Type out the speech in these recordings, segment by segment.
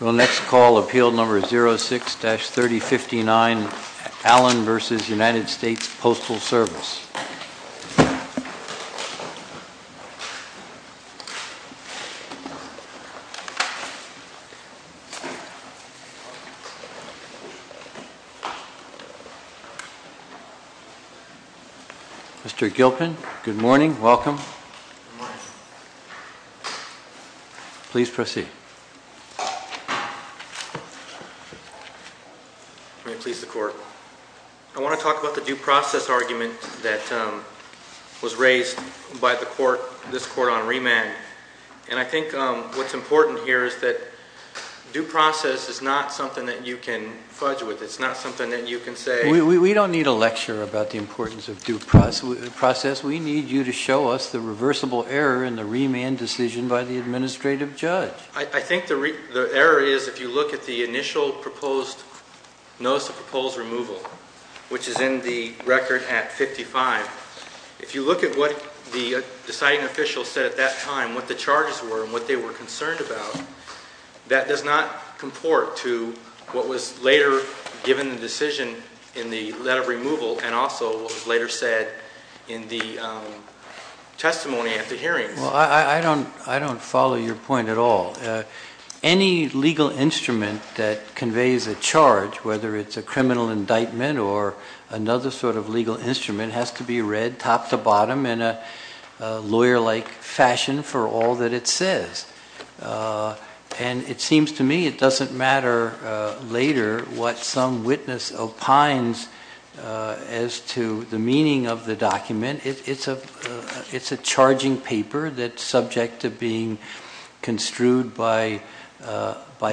The next call, appeal number 06-3059, Allen v. United States Postal Service. Mr. Gilpin, good morning, welcome. Please proceed. May it please the court. I want to talk about the due process argument that was raised by the court, this court, on remand. And I think what's important here is that due process is not something that you can fudge with. It's not something that you can say... We don't need a lecture about the importance of due process. We need you to show us the reversible error in the remand decision by the administrative judge. I think the error is if you look at the initial proposed notice of proposed removal, which is in the record at 55, if you look at what the deciding official said at that time, what the charges were and what they were concerned about, that does not comport to what was later given the decision in the letter of removal and also what was later said in the testimony at the hearing. Well, I don't follow your point at all. Any legal instrument that conveys a charge, whether it's a criminal indictment or another sort of legal instrument, has to be read top to bottom in a lawyer-like fashion for all that it says. And it seems to me it doesn't matter later what some witness opines as to the meaning of the document. It's a charging paper that's subject to being construed by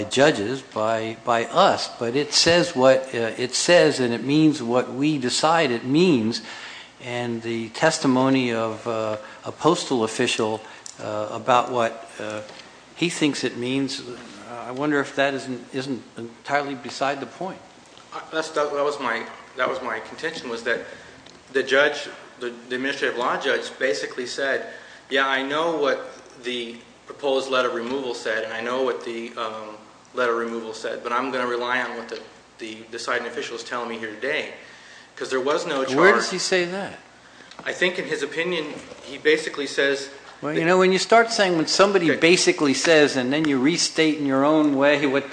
judges, by us. But it says and it means what we decide it means. And the testimony of a postal official about what he thinks it means, I wonder if that isn't entirely beside the point. That was my contention, was that the judge, the administrative law judge, basically said, yeah, I know what the proposed letter of removal said and I know what the letter of removal said, but I'm going to rely on what the deciding official is telling me here today. Because there was no charge. Where does he say that? I think in his opinion, he basically says... Well, you know, when you start saying when somebody basically says and then you restate in your own way what...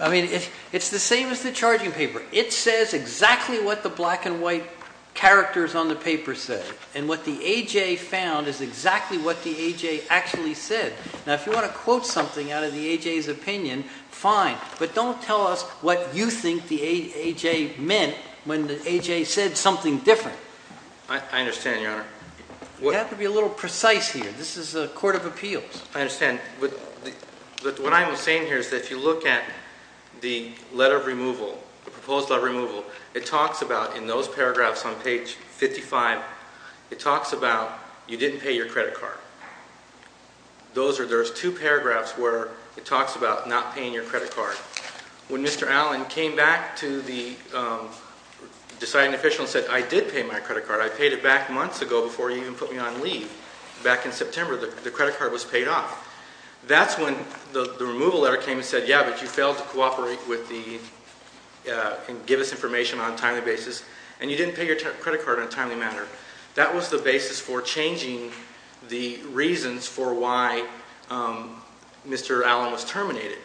I mean, it's the same as the charging paper. It says exactly what the black and white characters on the paper said. And what the A.J. found is exactly what the A.J. actually said. Now, if you want to quote something out of the A.J.'s opinion, fine. But don't tell us what you think the A.J. meant when the A.J. said something different. I understand, Your Honor. You have to be a little precise here. This is a court of appeals. I understand. But what I'm saying here is that if you look at the letter of removal, the proposed letter of removal, it talks about, in those paragraphs on page 55, it talks about you didn't pay your credit card. Those are... There's two paragraphs where it talks about not paying your credit card. When Mr. Allen came back to the deciding official and said, I did pay my credit card. I paid it back months ago before you even put me on leave. Back in September, the credit card was paid off. That's when the removal letter came and said, yeah, but you failed to cooperate with the... and give us information on a timely basis. And you didn't pay your credit card on a timely matter. That was the basis for changing the reasons for why Mr. Allen was terminated.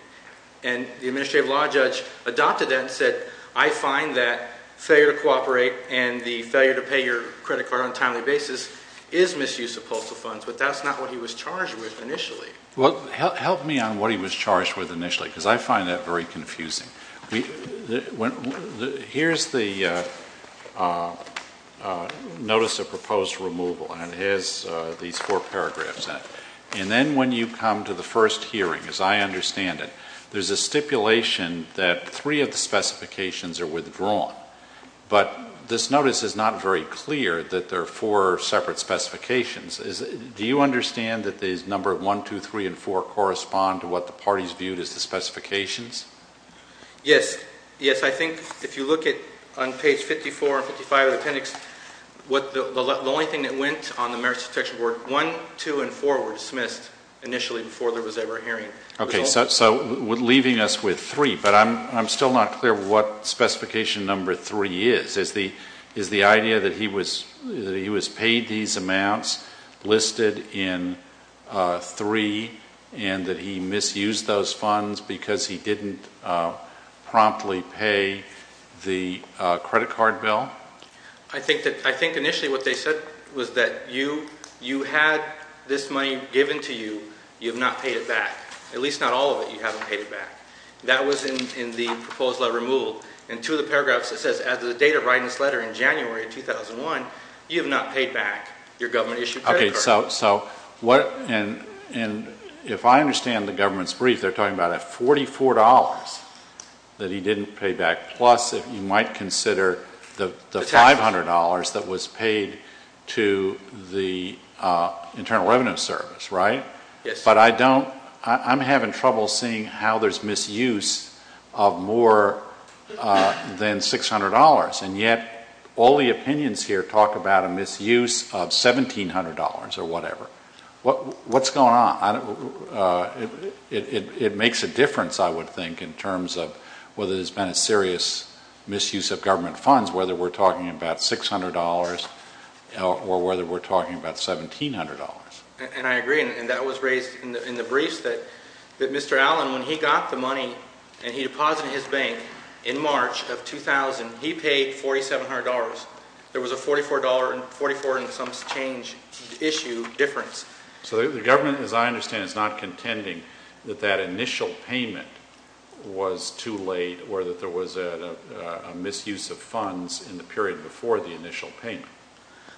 And the administrative law judge adopted that and said, I find that failure to cooperate and the failure to pay your credit card on a timely matter. But that's not what he was charged with initially. Well, help me on what he was charged with initially, because I find that very confusing. Here's the notice of proposed removal, and it has these four paragraphs in it. And then when you come to the first hearing, as I understand it, there's a stipulation that three of the specifications are withdrawn. But this notice is not very clear that there are four separate specifications. Do you understand that these number one, two, three, and four correspond to what the parties viewed as the specifications? Yes. Yes, I think if you look at on page 54 and 55 of the appendix, the only thing that went on the Merits Protection Board, one, two, and four were dismissed initially before there was ever a hearing. So leaving us with three, but I'm still not clear what specification number three is. Is the idea that he was paid these amounts listed in three, and that he misused those funds because he didn't promptly pay the credit card bill? I think initially what they said was that you had this money given to you, you have not paid it back. At least not all of it, you haven't paid it back. That was in the date of writing this letter in January of 2001, you have not paid back your government issued credit card. Okay, so what, and if I understand the government's brief, they're talking about a $44 that he didn't pay back, plus you might consider the $500 that was paid to the Internal Revenue Service, right? Yes. But I don't, I'm having trouble seeing how there's misuse of more than $600, and yet all the opinions here talk about a misuse of $1,700 or whatever. What's going on? It makes a difference, I would think, in terms of whether there's been a serious misuse of government funds, whether we're talking about $600 or whether we're talking about $1,700. And I agree, and that was raised in the briefs, that Mr. Allen, when he got the money and he deposited it in his bank in March of 2000, he paid $4,700. There was a $44 and some change issue difference. So the government, as I understand it, is not contending that that initial payment was too late or that there was a misuse of funds in the period before the initial payment?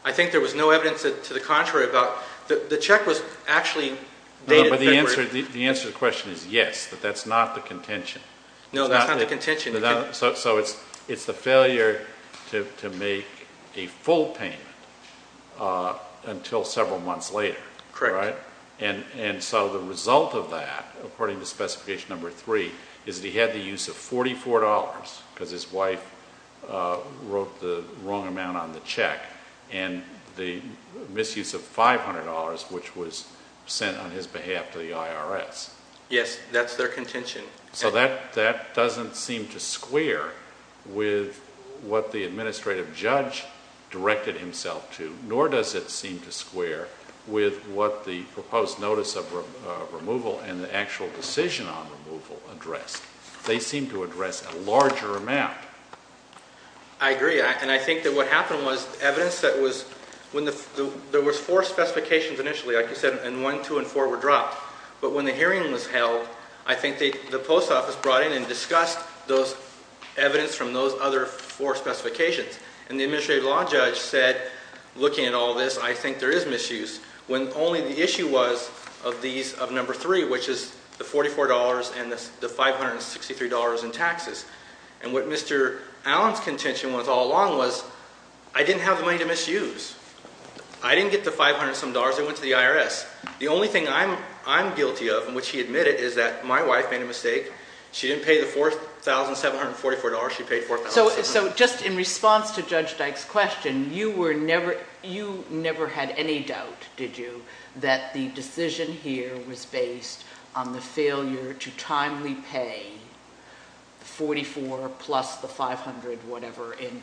I think there was no evidence to the contrary about, the check was actually dated February... No, but the answer to the question is yes, that that's not the contention. No, that's not the contention. So it's the failure to make a full payment until several months later, right? Correct. And so the result of that, according to Specification Number 3, is that he had the use of $44 because his wife wrote the wrong amount on the check, and the misuse of $500, which was sent on his behalf to the IRS. Yes, that's their contention. So that doesn't seem to square with what the administrative judge directed himself to, nor does it seem to square with what the proposed notice of removal and the actual decision on removal addressed. They seem to address a larger amount. I agree, and I think that what happened was evidence that was... there was four specifications initially, like you said, and one, two, and four were dropped. But when the hearing was held, I think the post office brought in and discussed those evidence from those other four specifications, and the administrative law judge said, looking at all this, I think there is misuse, when only the issue was of these, of Number 3, which is the $44 and the $563 in taxes. And what Mr. Allen's contention was all along was, I didn't have the money to misuse. I didn't get the $500 and some dollars, I went to the IRS. The only thing I'm guilty of, and which he admitted, is that my wife made a mistake. She didn't pay the $4,744, she paid $4,700. So just in response to Judge Dyke's question, you never had any doubt, did you, that the judge was biased on the failure to timely pay the $44 plus the $500, whatever, in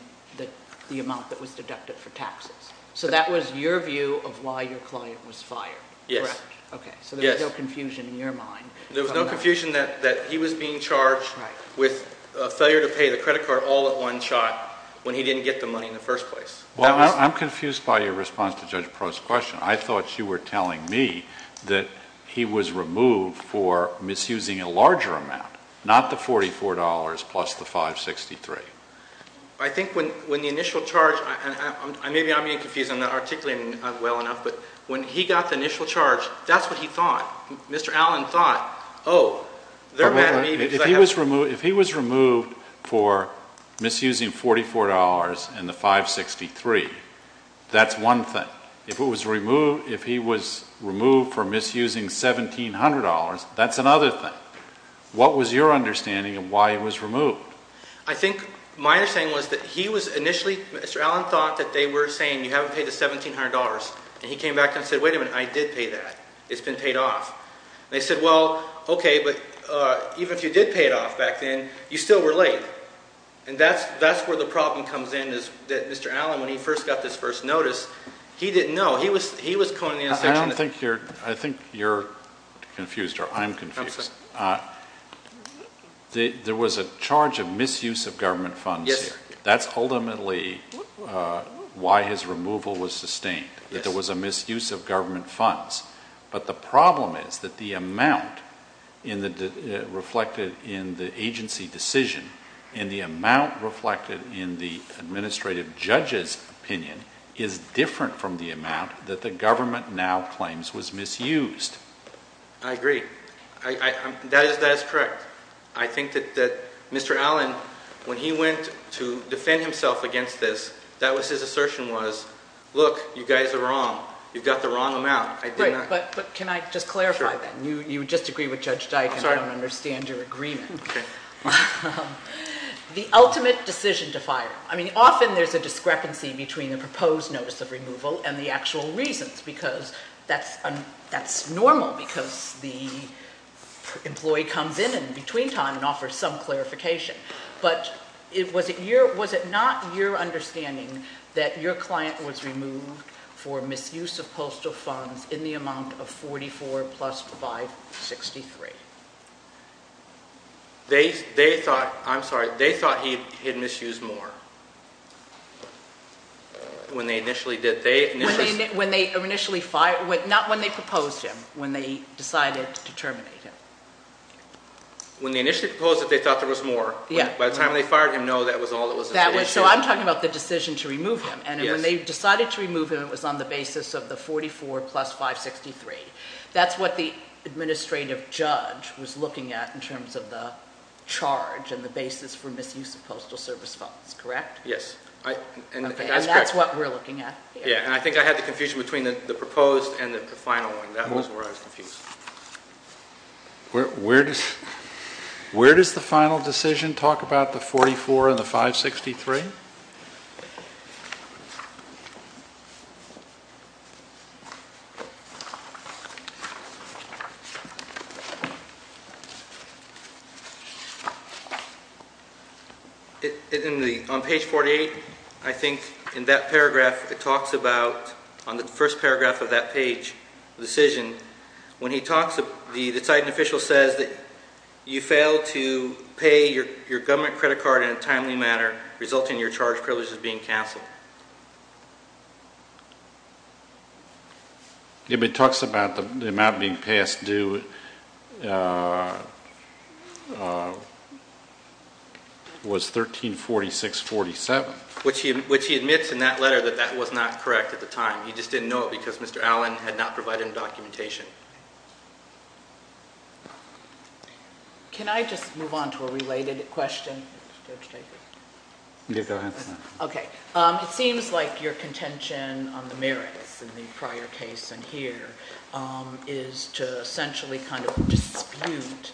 the amount that was deducted for taxes? So that was your view of why your client was fired, correct? Yes. Okay, so there was no confusion in your mind. There was no confusion that he was being charged with a failure to pay the credit card all at one shot, when he didn't get the money in the first place. I'm confused by your response to Judge Perot's question. I thought you were telling me that he was removed for misusing a larger amount, not the $44 plus the $563. I think when the initial charge, maybe I'm being confused, I'm not articulating well enough, but when he got the initial charge, that's what he thought. Mr. Allen thought, oh, they're mad at me because I have... If he was removed for misusing $44 and the $563, that's one thing. If he was removed for misusing $1,700, that's another thing. What was your understanding of why he was removed? I think my understanding was that he was initially, Mr. Allen thought that they were saying you haven't paid the $1,700, and he came back and said, wait a minute, I did pay that. It's been paid off. They said, well, okay, but even if you did pay it off back then, you still were late. And that's where the problem comes in is that Mr. Allen, when he first got this first notice, he didn't know. He was calling the inspection... I don't think you're... I think you're confused, or I'm confused. There was a charge of misuse of government funds here. That's ultimately why his removal was sustained, that there was a misuse of government funds. But the problem is that the amount reflected in the agency decision and the amount reflected in the administrative judge's opinion is different from the amount that the government now claims was misused. I agree. That is correct. I think that Mr. Allen, when he went to defend himself against this, that was his assertion was, look, you guys are wrong. You've got the wrong amount. I did not... Right, but can I just clarify that? You just agree with Judge Dike, and I don't understand your agreement. Okay. The ultimate decision to fire, I mean, often there's a discrepancy between a proposed notice of removal and the actual reasons, because that's normal, because the employee comes in in between time and offers some clarification. But was it not your understanding that your client was removed for misuse of postal funds in the amount of $44,000 plus $563,000? They thought, I'm sorry, they thought he had misused more. When they initially did. When they initially fired, not when they proposed him, when they decided to terminate him. When they initially proposed it, they thought there was more. Yeah. By the time they fired him, no, that was all it was. So I'm talking about the decision to remove him, and when they decided to remove him, it was on the basis of the $44,000 plus $563,000. That's what the administrative judge was looking at in terms of the charge and the basis for misuse of postal service funds, correct? Yes. Okay, and that's what we're looking at here. Yeah, and I think I had the confusion between the proposed and the final one. That was where I was confused. Where does the final decision talk about the $44,000 and the $563,000? On page 48, I think in that paragraph, it talks about, on the first paragraph of that page, the decision, when he talks, the Titan official says that you fail to pay your government credit card in a timely manner, resulting in your charge privileges being canceled. Yeah, but it talks about the amount being passed due was $1346.47. Which he admits in that letter that that was not correct at the time. He just didn't know it because Mr. Allen had not provided documentation. Can I just move on to a related question, Judge Jacob? Yeah, go ahead. Okay. It seems like your contention on the merits in the prior case and here is to essentially kind of dispute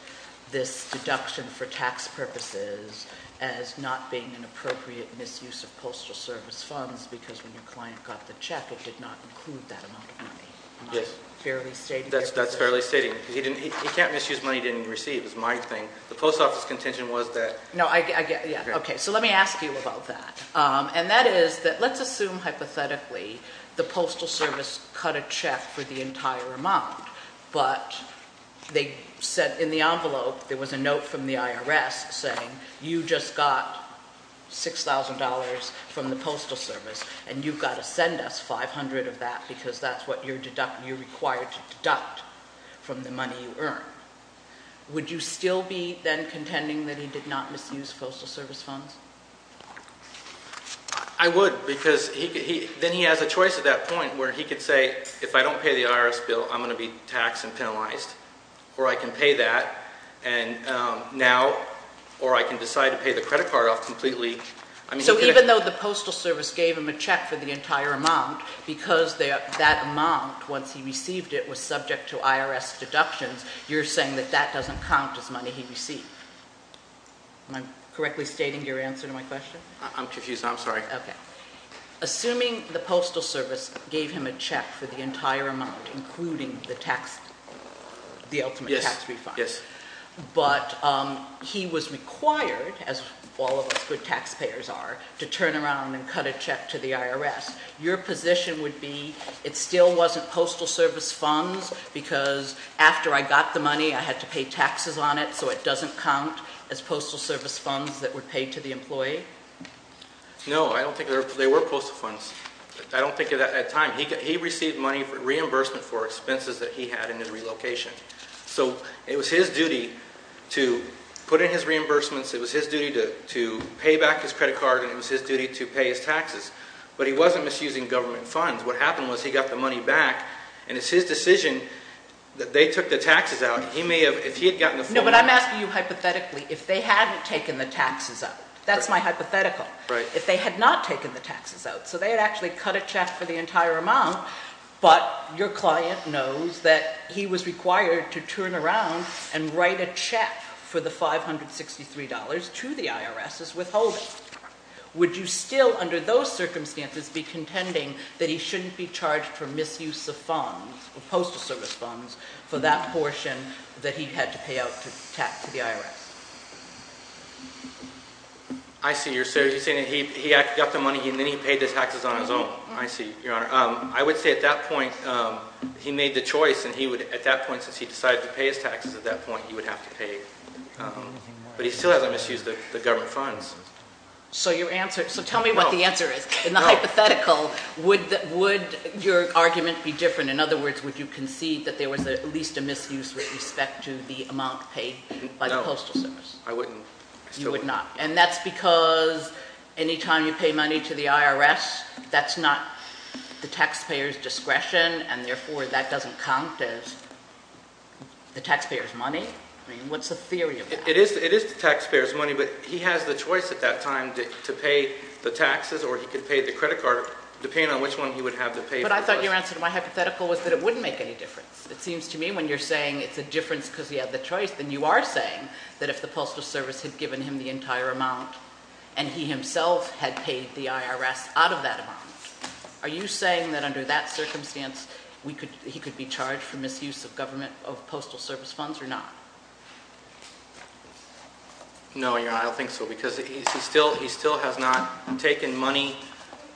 this deduction for tax purposes as not being an appropriate misuse of postal service funds because when your client got the check, it did not include that amount of money. Yes. Fairly stating- That's fairly stating. He can't misuse money he didn't receive, is my thing. The post office contention was that- No, I get, yeah. Okay. So let me ask you about that. And that is that, let's assume hypothetically, the postal service cut a check for the entire amount, but they said in the envelope, there was a note from the IRS saying, you just got $6,000 from the postal service and you've got to send us 500 of that because that's what you're required to deduct from the money you earn. Would you still be then contending that he did not misuse postal service funds? I would because then he has a choice at that point where he could say, if I don't pay the IRS bill, I'm going to be taxed and penalized or I can pay that and now, or I can decide to pay the credit card off completely. So even though the postal service gave him a check for the entire amount, because that amount, once he received it, was subject to IRS deductions, you're saying that that doesn't count as money he received. Am I correctly stating your answer to my question? I'm confused. I'm sorry. Okay. Assuming the postal service gave him a check for the entire amount, including the tax, the ultimate tax refund. Yes. Yes. But he was required, as all of us good taxpayers are, to turn around and cut a check to the IRS. Your position would be it still wasn't postal service funds because after I got the money, I had to pay taxes on it so it doesn't count as postal service funds that would pay to the employee? No, I don't think they were postal funds. I don't think at that time. He received money for reimbursement for expenses that he had in the relocation. So it was his duty to put in his reimbursements. It was his duty to pay back his credit card, and it was his duty to pay his taxes. But he wasn't misusing government funds. What happened was he got the money back, and it's his decision that they took the taxes out. He may have, if he had gotten the full amount- No, but I'm asking you hypothetically, if they hadn't taken the taxes out. That's my hypothetical. Right. If they had not taken the taxes out. So they had actually cut a check for the entire amount, but your client knows that he was required to turn around and write a check for the $563 to the IRS as withholding. Would you still, under those circumstances, be contending that he shouldn't be charged for misuse of funds, or postal service funds, for that portion that he had to pay out to the IRS? I see. You're saying that he actually got the money, and then he paid the taxes on his own. I see, Your Honor. I would say at that point, he made the choice, and he would, at that point, since he decided to pay his taxes at that point, he would have to pay, but he still hasn't misused the government funds. So your answer, so tell me what the answer is, in the hypothetical, would your argument be different? In other words, would you concede that there was at least a misuse with respect to the amount paid by the postal service? No, I wouldn't. You would not. And that's because any time you pay money to the IRS, that's not the taxpayer's discretion, and therefore, that doesn't count as the taxpayer's money? I mean, what's the theory of that? It is the taxpayer's money, but he has the choice at that time to pay the taxes, or he could pay the credit card, depending on which one he would have to pay for. But I thought your answer to my hypothetical was that it wouldn't make any difference. It seems to me when you're saying it's a difference because he had the choice, then you are saying that if the postal service had given him the entire amount, and he himself had paid the IRS out of that amount, are you saying that under that circumstance, he could be charged for misuse of government, of postal service funds, or not? No, Your Honor, I don't think so, because he still has not taken money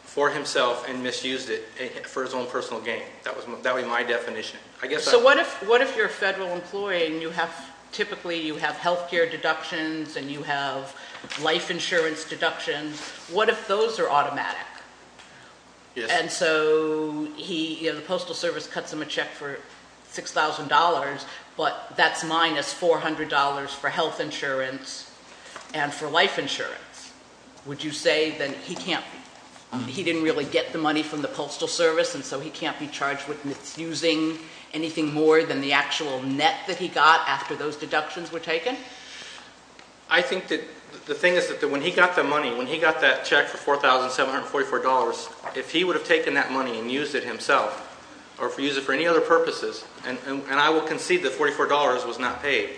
for himself and misused it for his own personal gain. That would be my definition. So what if you're a federal employee and you have, typically, you have health care deductions and you have life insurance deductions, what if those are automatic? And so the postal service cuts him a check for $6,000, but that's minus $400 for health insurance and for life insurance. Would you say then he can't, he didn't really get the money from the postal service, and so he can't be charged with misusing anything more than the actual net that he got after those deductions were taken? I think that the thing is that when he got the money, when he got that check for $4,744, if he would have taken that money and used it himself, or if he used it for any other purposes, and I will concede that $44 was not paid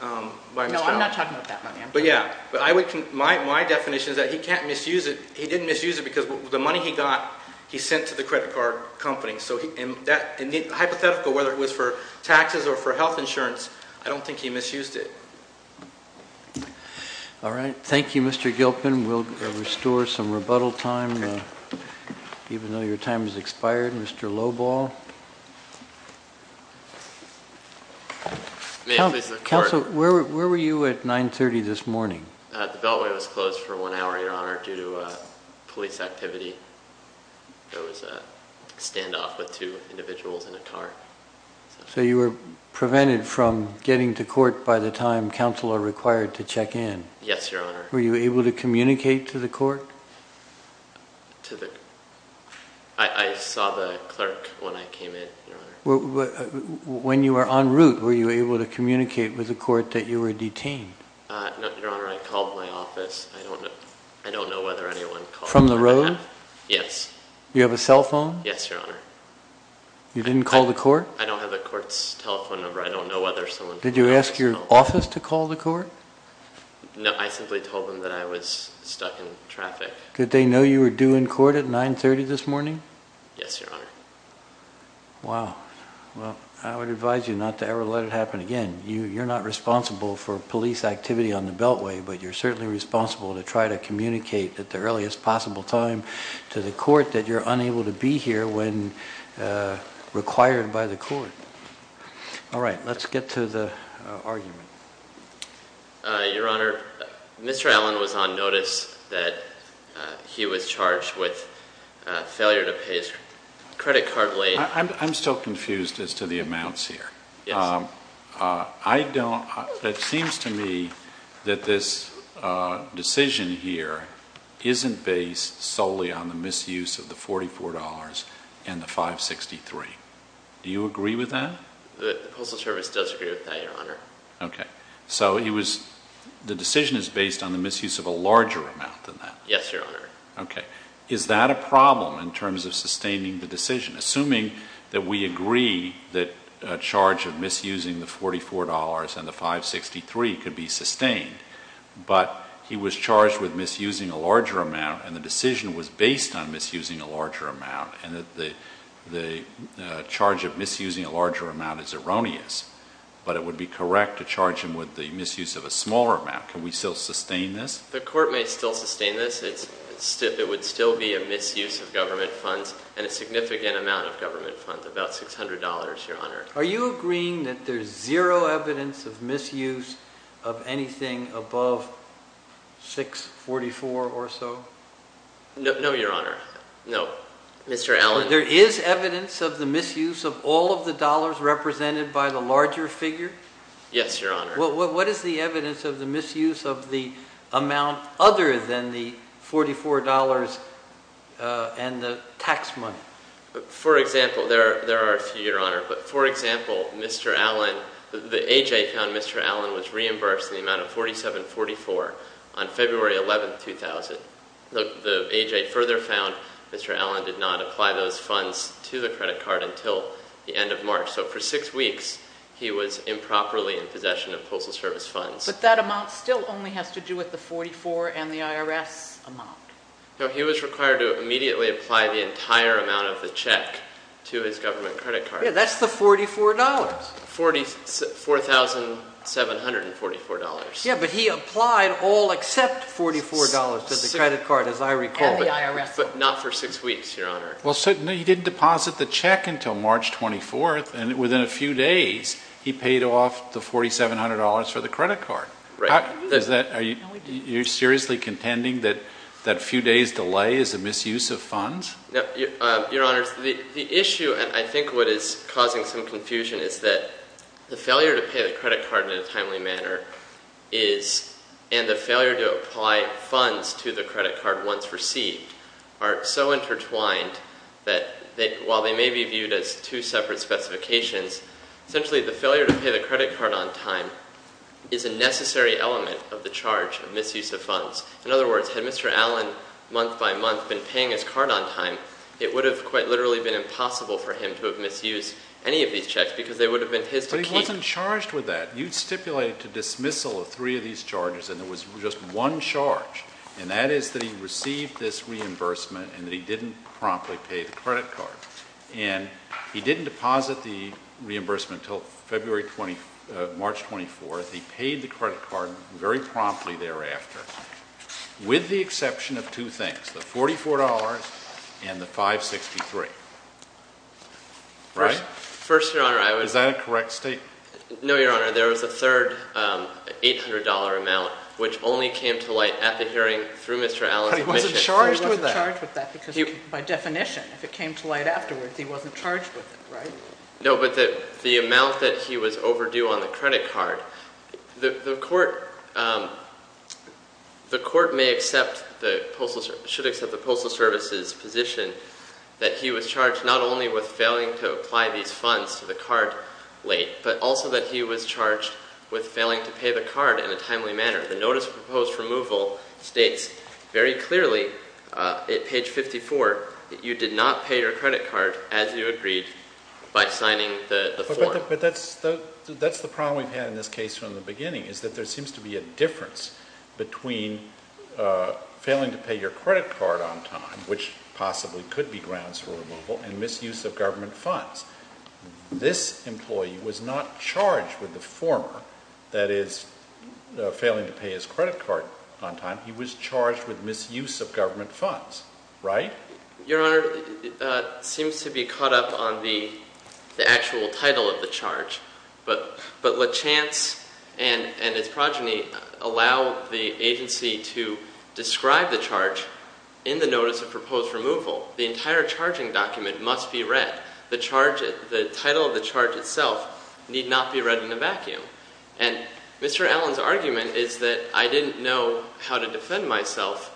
by Mr. Allen. No, I'm not talking about that money, I'm talking about... But yeah, my definition is that he can't misuse it, he didn't misuse it because the money he got, he sent to the credit card company, so hypothetical, whether it was for taxes or for health insurance, I don't think he misused it. All right, thank you Mr. Gilpin, we'll restore some rebuttal time, even though your time has expired. Mr. Lobal. Counsel, where were you at 9.30 this morning? The beltway was closed for one hour, your honor, due to police activity. There was a standoff with two individuals in a car. So you were prevented from getting to court by the time counsel are required to check in? Yes, your honor. Were you able to communicate to the court? I saw the clerk when I came in, your honor. When you were en route, were you able to communicate with the court that you were detained? No, your honor, I called my office, I don't know whether anyone called. From the road? Yes. You have a cell phone? Yes, your honor. You didn't call the court? I don't have the court's telephone number, I don't know whether someone called. Did you ask your office to call the court? No, I simply told them that I was stuck in traffic. Did they know you were due in court at 9.30 this morning? Yes, your honor. Wow, well I would advise you not to ever let it happen again. You're not responsible for police activity on the Beltway, but you're certainly responsible to try to communicate at the earliest possible time to the court that you're unable to be here when required by the court. Alright, let's get to the argument. Your honor, Mr. Allen was on notice that he was charged with failure to pay his credit card late. I'm still confused as to the amounts here. It seems to me that this decision here isn't based solely on the misuse of the $44 and the $563. Do you agree with that? The Postal Service does agree with that, your honor. So the decision is based on the misuse of a larger amount than that? Yes, your honor. Is that a problem in terms of sustaining the decision, assuming that we agree that a charge of misusing the $44 and the $563 could be sustained, but he was charged with misusing a larger amount and the decision was based on misusing a larger amount and the charge of misusing a larger amount is erroneous, but it would be correct to charge him with the misuse of a smaller amount. Can we still sustain this? The court may still sustain this. It would still be a misuse of government funds and a significant amount of government funds, about $600, your honor. Are you agreeing that there's zero evidence of misuse of anything above $644 or so? No, your honor. No. Mr. Allen. So there is evidence of the misuse of all of the dollars represented by the larger figure? Yes, your honor. What is the evidence of the misuse of the amount other than the $44 and the tax money? For example, there are a few, your honor, but for example, Mr. Allen, the AJ found Mr. Allen was reimbursed in the amount of $4744 on February 11, 2000. The AJ further found Mr. Allen did not apply those funds to the credit card until the end of March. So for six weeks, he was improperly in possession of Postal Service funds. But that amount still only has to do with the $44 and the IRS amount. No, he was required to immediately apply the entire amount of the check to his government credit card. Yeah, that's the $44. $4744. Yeah, but he applied all except $44 to the credit card, as I recall. And the IRS one. But not for six weeks, your honor. Well, so he didn't deposit the check until March 24th, and within a few days, he paid off the $4700 for the credit card. You're seriously contending that a few days delay is a misuse of funds? Your honors, the issue, and I think what is causing some confusion, is that the failure to pay the credit card in a timely manner is, and the failure to apply funds to the credit card on time, that while they may be viewed as two separate specifications, essentially the failure to pay the credit card on time is a necessary element of the charge of misuse of funds. In other words, had Mr. Allen, month by month, been paying his card on time, it would have quite literally been impossible for him to have misused any of these checks because they would have been his to keep. But he wasn't charged with that. You stipulated to dismissal of three of these charges, and there was just one charge, and that is that he received this reimbursement and that he didn't promptly pay the credit card. And he didn't deposit the reimbursement until February 20th, March 24th, he paid the credit card very promptly thereafter, with the exception of two things, the $44 and the $563, right? First, your honor, I would Is that a correct statement? No, your honor, there was a third $800 amount, which only came to light at the hearing through Mr. Allen's admission. But he wasn't charged with that. He wasn't charged with that because by definition, if it came to light afterwards, he wasn't charged with it, right? No, but the amount that he was overdue on the credit card, the court may accept, should accept the Postal Service's position that he was charged not only with failing to apply these funds to the card late, but also that he was charged with failing to pay the card in a timely manner. The notice of proposed removal states very clearly, at page 54, that you did not pay your credit card as you agreed by signing the form. But that's the problem we've had in this case from the beginning, is that there seems to be a difference between failing to pay your credit card on time, which possibly could be grounds for removal, and misuse of government funds. This employee was not charged with the former, that is, failing to pay his credit card on time. He was charged with misuse of government funds, right? Your Honor, it seems to be caught up on the actual title of the charge. But LeChance and its progeny allow the agency to describe the charge in the notice of proposed removal. The entire charging document must be read. The title of the charge itself need not be read in a vacuum. And Mr. Allen's argument is that I didn't know how to defend myself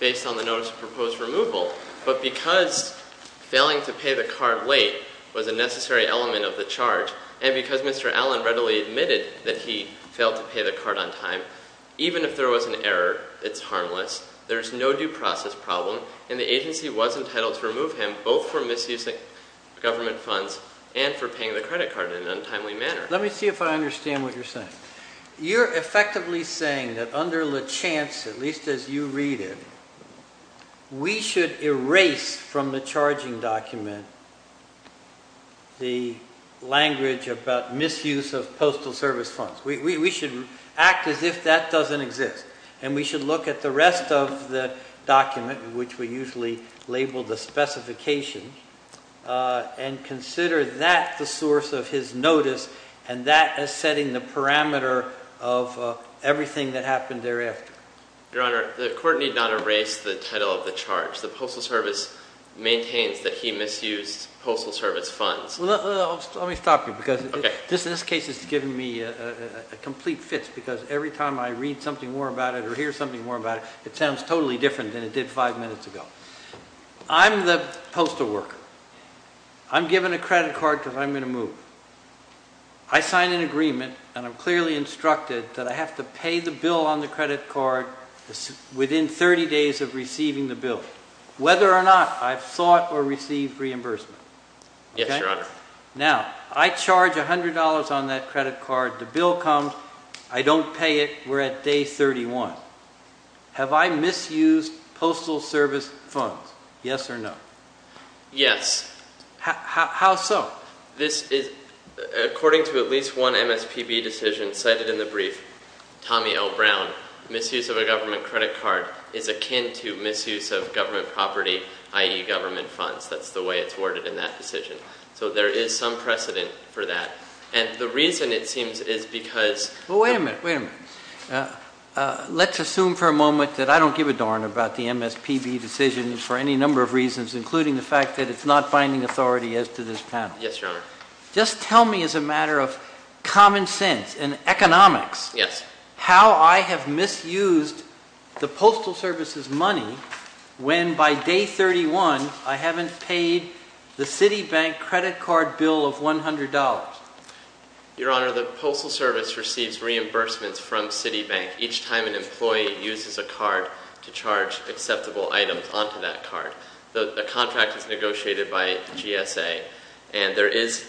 based on the notice of proposed removal. But because failing to pay the card late was a necessary element of the charge, and because Mr. Allen readily admitted that he failed to pay the card on time, even if there was an error, it's harmless, there's no due process problem, and the agency was entitled to remove him both for misusing government funds and for paying the credit card in an untimely manner. Let me see if I understand what you're saying. You're effectively saying that under LeChance, at least as you read it, we should erase from the charging document the language about misuse of postal service funds. We should act as if that doesn't exist. And we should look at the rest of the document, which we usually label the specification, and consider that the source of his notice, and that as setting the parameter of everything that happened thereafter. Your Honor, the court need not erase the title of the charge. The Postal Service maintains that he misused Postal Service funds. Let me stop you, because this case has given me a complete fix, because every time I read something more about it or hear something more about it, it sounds totally different than it did five minutes ago. I'm the postal worker. I'm given a credit card because I'm going to move. I sign an agreement, and I'm clearly instructed that I have to pay the bill on the credit card within 30 days of receiving the bill, whether or not I've sought or received reimbursement. Yes, Your Honor. Now, I charge $100 on that credit card. The bill comes. I don't pay it. We're at day 31. Have I misused Postal Service funds? Yes or no? Yes. How so? According to at least one MSPB decision cited in the brief, Tommy L. Brown, misuse of a government credit card is akin to misuse of government property, i.e., government funds. That's the way it's worded in that decision. So there is some precedent for that. And the reason, it seems, is because... Well, wait a minute. Wait a minute. Let's assume for a moment that I don't give a darn about the MSPB decision for any number of reasons, including the fact that it's not binding authority as to this panel. Yes, Your Honor. Just tell me as a matter of common sense and economics how I have misused the Postal Service's One, I haven't paid the Citibank credit card bill of $100. Your Honor, the Postal Service receives reimbursements from Citibank each time an employee uses a card to charge acceptable items onto that card. The contract is negotiated by GSA. And there is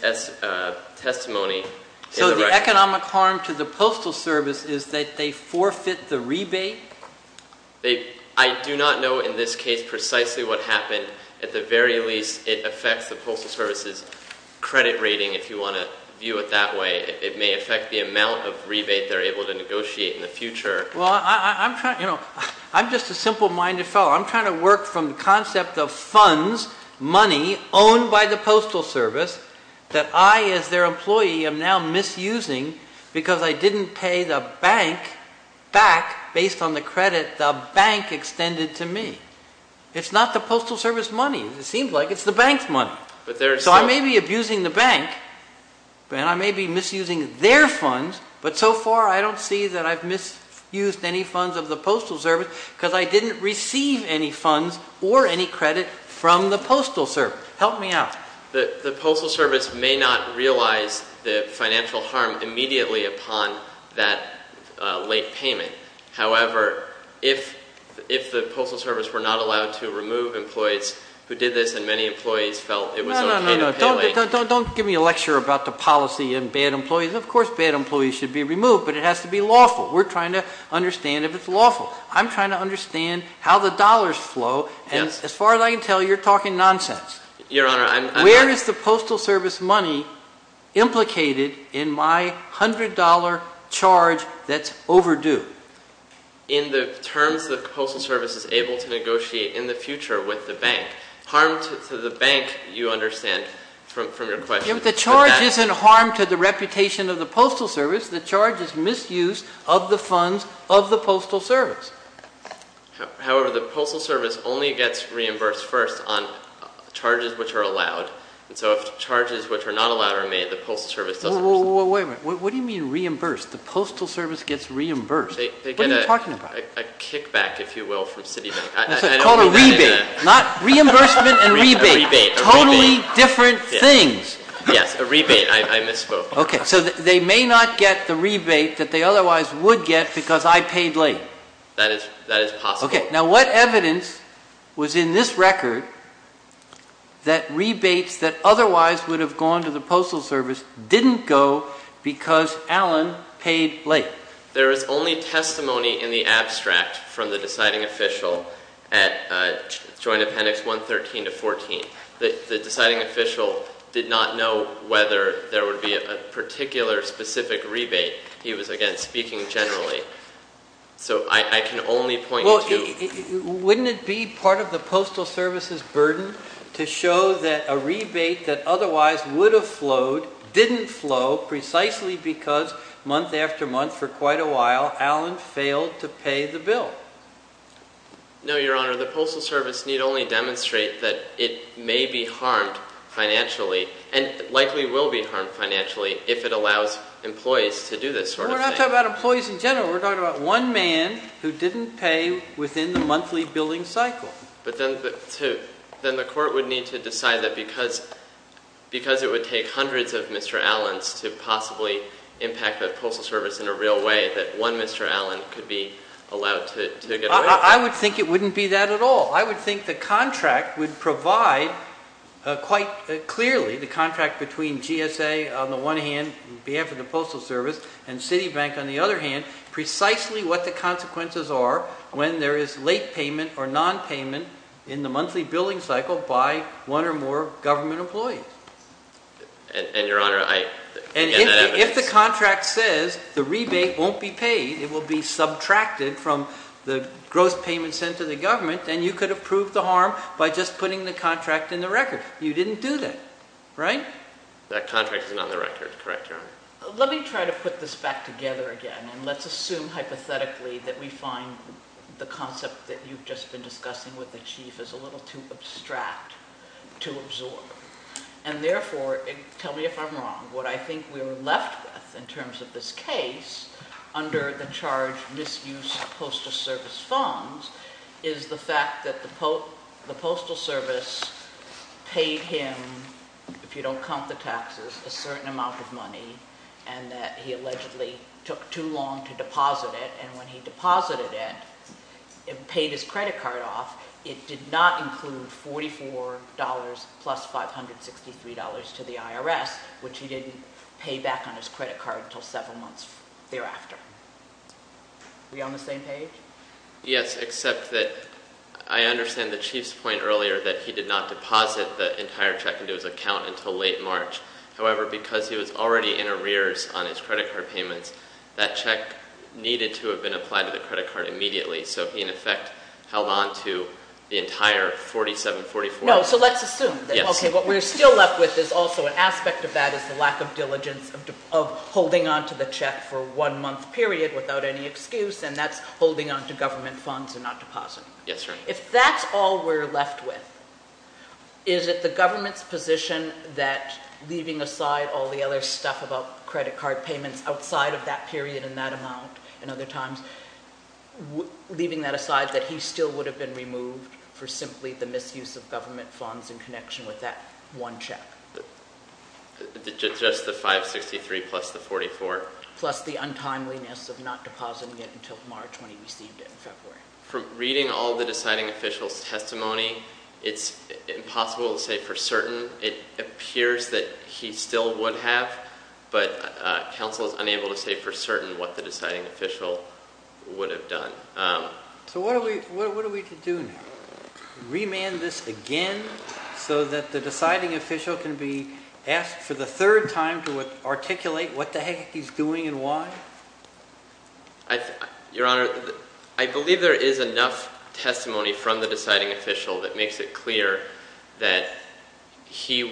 testimony... So the economic harm to the Postal Service is that they forfeit the rebate? I do not know in this case precisely what happened. At the very least, it affects the Postal Service's credit rating, if you want to view it that way. It may affect the amount of rebate they're able to negotiate in the future. Well, I'm just a simple-minded fellow. I'm trying to work from the concept of funds, money, owned by the Postal Service, that I, as their employee, am now misusing because I didn't pay the bank back based on the credit the bank extended to me. It's not the Postal Service money. It seems like it's the bank's money. So I may be abusing the bank, and I may be misusing their funds, but so far I don't see that I've misused any funds of the Postal Service because I didn't receive any funds or any credit from the Postal Service. Help me out. The Postal Service may not realize the financial harm immediately upon that late payment. However, if the Postal Service were not allowed to remove employees who did this and many employees felt it was okay to pay late… No, no, no. Don't give me a lecture about the policy and bad employees. Of course bad employees should be removed, but it has to be lawful. We're trying to understand if it's lawful. I'm trying to understand how the dollars flow, and as far as I can tell, you're talking nonsense. Your Honor, I'm… Where is the Postal Service money implicated in my $100 charge that's overdue? In the terms the Postal Service is able to negotiate in the future with the bank. Harm to the bank, you understand from your question. The charge isn't harm to the reputation of the Postal Service. The charge is misuse of the funds of the Postal Service. However, the Postal Service only gets reimbursed first on charges which are allowed. And so if charges which are not allowed are made, the Postal Service doesn't… Wait a minute. What do you mean reimbursed? The Postal Service gets reimbursed. What are you talking about? They get a kickback, if you will, from Citibank. It's called a rebate. Not reimbursement and rebate. A rebate. Totally different things. Yes, a rebate. I misspoke. Okay, so they may not get the rebate that they otherwise would get because I paid late. That is possible. Okay, now what evidence was in this record that rebates that otherwise would have gone to the Postal Service didn't go because Alan paid late? There is only testimony in the abstract from the deciding official at Joint Appendix 113 to 114. The deciding official did not know whether there would be a particular specific rebate. He was, again, speaking generally. So I can only point to… Wouldn't it be part of the Postal Service's burden to show that a rebate that otherwise would have flowed didn't flow precisely because month after month for quite a while Alan failed to pay the bill? No, Your Honor. The Postal Service need only demonstrate that it may be harmed financially and likely will be harmed financially if it allows employees to do this sort of thing. No, we're not talking about employees in general. We're talking about one man who didn't pay within the monthly billing cycle. But then the court would need to decide that because it would take hundreds of Mr. Allens to possibly impact the Postal Service in a real way that one Mr. Allen could be allowed to get away from it. I would think it wouldn't be that at all. I would think the contract would provide quite clearly, the contract between GSA on the one hand, on behalf of the Postal Service, and Citibank on the other hand, precisely what the consequences are when there is late payment or nonpayment in the monthly billing cycle by one or more government employees. And, Your Honor, I get that evidence. If the contract says the rebate won't be paid, it will be subtracted from the gross payment sent to the government, then you could have proved the harm by just putting the contract in the record. You didn't do that, right? That contract isn't on the record, correct, Your Honor? Let me try to put this back together again and let's assume hypothetically that we find the concept that you've just been discussing with the Chief is a little too abstract to absorb. And therefore, tell me if I'm wrong, what I think we're left with in terms of this case under the charge misuse of Postal Service funds is the fact that the Postal Service paid him, if you don't count the taxes, a certain amount of money and that he allegedly took too long to deposit it. And when he deposited it and paid his credit card off, it did not include $44 plus $563 to the IRS, which he didn't pay back on his credit card until several months thereafter. Are we on the same page? Yes, except that I understand the Chief's point earlier that he did not deposit the entire check into his account until late March. However, because he was already in arrears on his credit card payments, that check needed to have been applied to the credit card immediately. So he, in effect, held on to the entire 4744. No, so let's assume. Yes. Okay, what we're still left with is also an aspect of that is the lack of diligence of holding on to the check for one month period without any excuse. And that's holding on to government funds and not depositing. Yes, Your Honor. If that's all we're left with, is it the government's position that, leaving aside all the other stuff about credit card payments outside of that period and that amount and other times, leaving that aside that he still would have been removed for simply the misuse of government funds in connection with that one check? Just the 563 plus the 44. Plus the untimeliness of not depositing it until March when he received it in February. From reading all the deciding official's testimony, it's impossible to say for certain. It appears that he still would have, but counsel is unable to say for certain what the deciding official would have done. So what are we to do now? Remand this again so that the deciding official can be asked for the third time to articulate what the heck he's doing and why? Your Honor, I believe there is enough testimony from the deciding official that makes it clear that he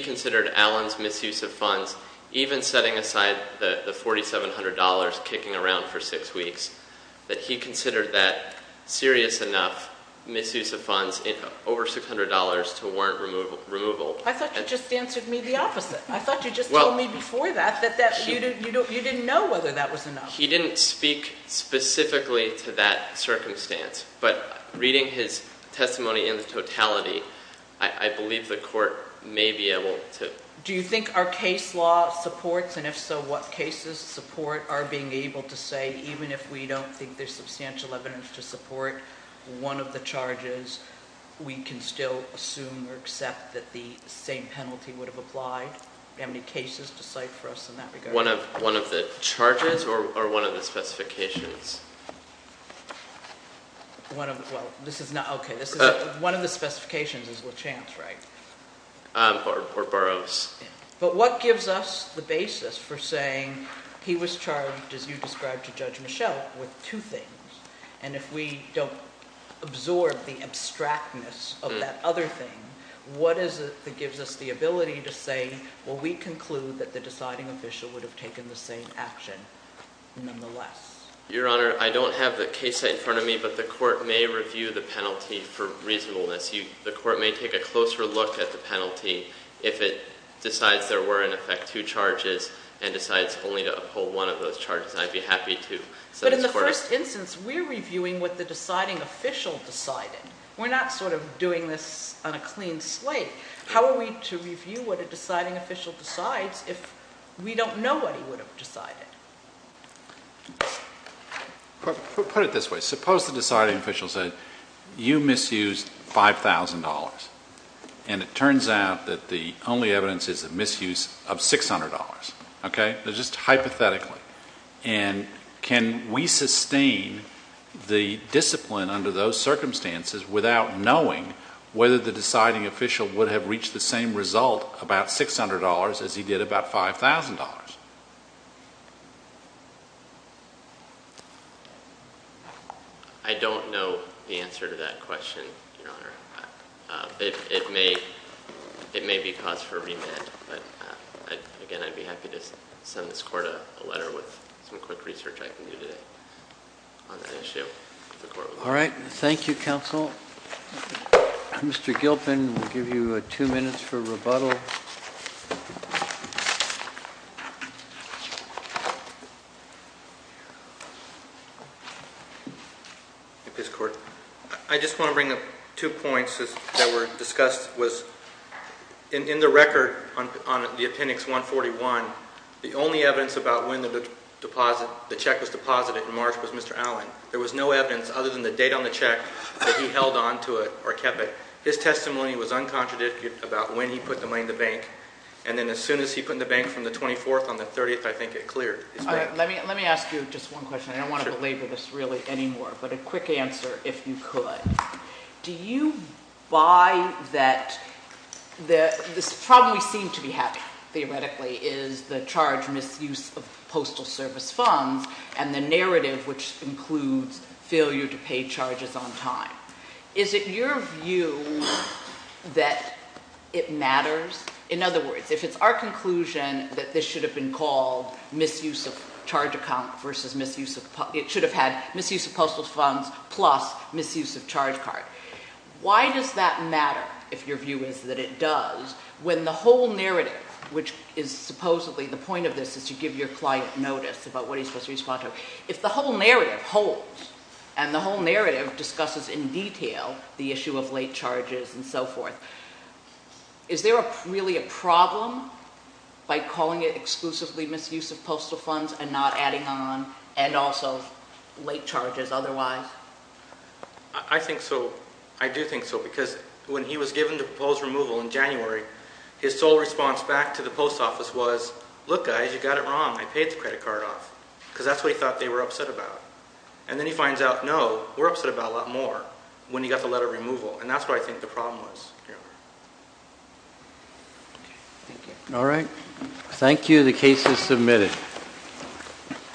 considered Allen's misuse of funds, even setting aside the $4,700 kicking around for six weeks, that he considered that serious enough misuse of funds in over $600 to warrant removal. I thought you just answered me the opposite. I thought you just told me before that, that you didn't know whether that was enough. He didn't speak specifically to that circumstance, but reading his testimony in totality, I believe the court may be able to- Do you think our case law supports, and if so, what cases support our being able to say, do you have any cases to cite for us in that regard? One of the charges or one of the specifications? One of, well, this is not, okay. One of the specifications is LaChance, right? Or Burroughs. But what gives us the basis for saying he was charged, as you described to Judge Michel, with two things? And if we don't absorb the abstractness of that other thing, what is it that gives us the ability to say, well, we conclude that the deciding official would have taken the same action nonetheless? Your Honor, I don't have the case site in front of me, but the court may review the penalty for reasonableness. The court may take a closer look at the penalty if it decides there were, in effect, two charges, and decides only to uphold one of those charges. I'd be happy to. But in the first instance, we're reviewing what the deciding official decided. We're not sort of doing this on a clean slate. How are we to review what a deciding official decides if we don't know what he would have decided? Put it this way. Suppose the deciding official said, you misused $5,000, and it turns out that the only evidence is the misuse of $600. Okay? So just hypothetically, and can we sustain the discipline under those circumstances without knowing whether the deciding official would have reached the same result, about $600, as he did about $5,000? I don't know the answer to that question, Your Honor. It may be cause for remand. But again, I'd be happy to send this court a letter with some quick research I can do today on that issue. All right. Thank you, counsel. Mr. Gilpin, we'll give you two minutes for rebuttal. Yes, court? I just want to bring up two points that were discussed. In the record on the appendix 141, the only evidence about when the check was deposited in March was Mr. Allen. There was no evidence other than the date on the check that he held on to it or kept it. His testimony was uncontradictory about when he put the money in the bank. And then as soon as he put in the bank from the 24th on the 30th, I think it cleared. Let me ask you just one question. I don't want to belabor this really anymore. But a quick answer, if you could. Do you buy that the problem we seem to be having theoretically is the charge misuse of postal service funds and the narrative which includes failure to pay charges on time. Is it your view that it matters? In other words, if it's our conclusion that this should have been called misuse of charge account versus misuse of — it should have had misuse of postal funds plus misuse of charge card. Why does that matter, if your view is that it does, when the whole narrative, which is supposedly — the point of this is to give your client notice about what he's supposed to respond to. If the whole narrative holds and the whole narrative discusses in detail the issue of late charges and so forth, is there really a problem by calling it exclusively misuse of postal funds and not adding on and also late charges otherwise? I think so. I do think so. Because when he was given the proposed removal in January, his sole response back to the post office was, look guys, you got it wrong. I paid the credit card off. Because that's what he thought they were upset about. And then he finds out, no, we're upset about a lot more when he got the letter of removal. And that's what I think the problem was. All right. Thank you. The case is submitted.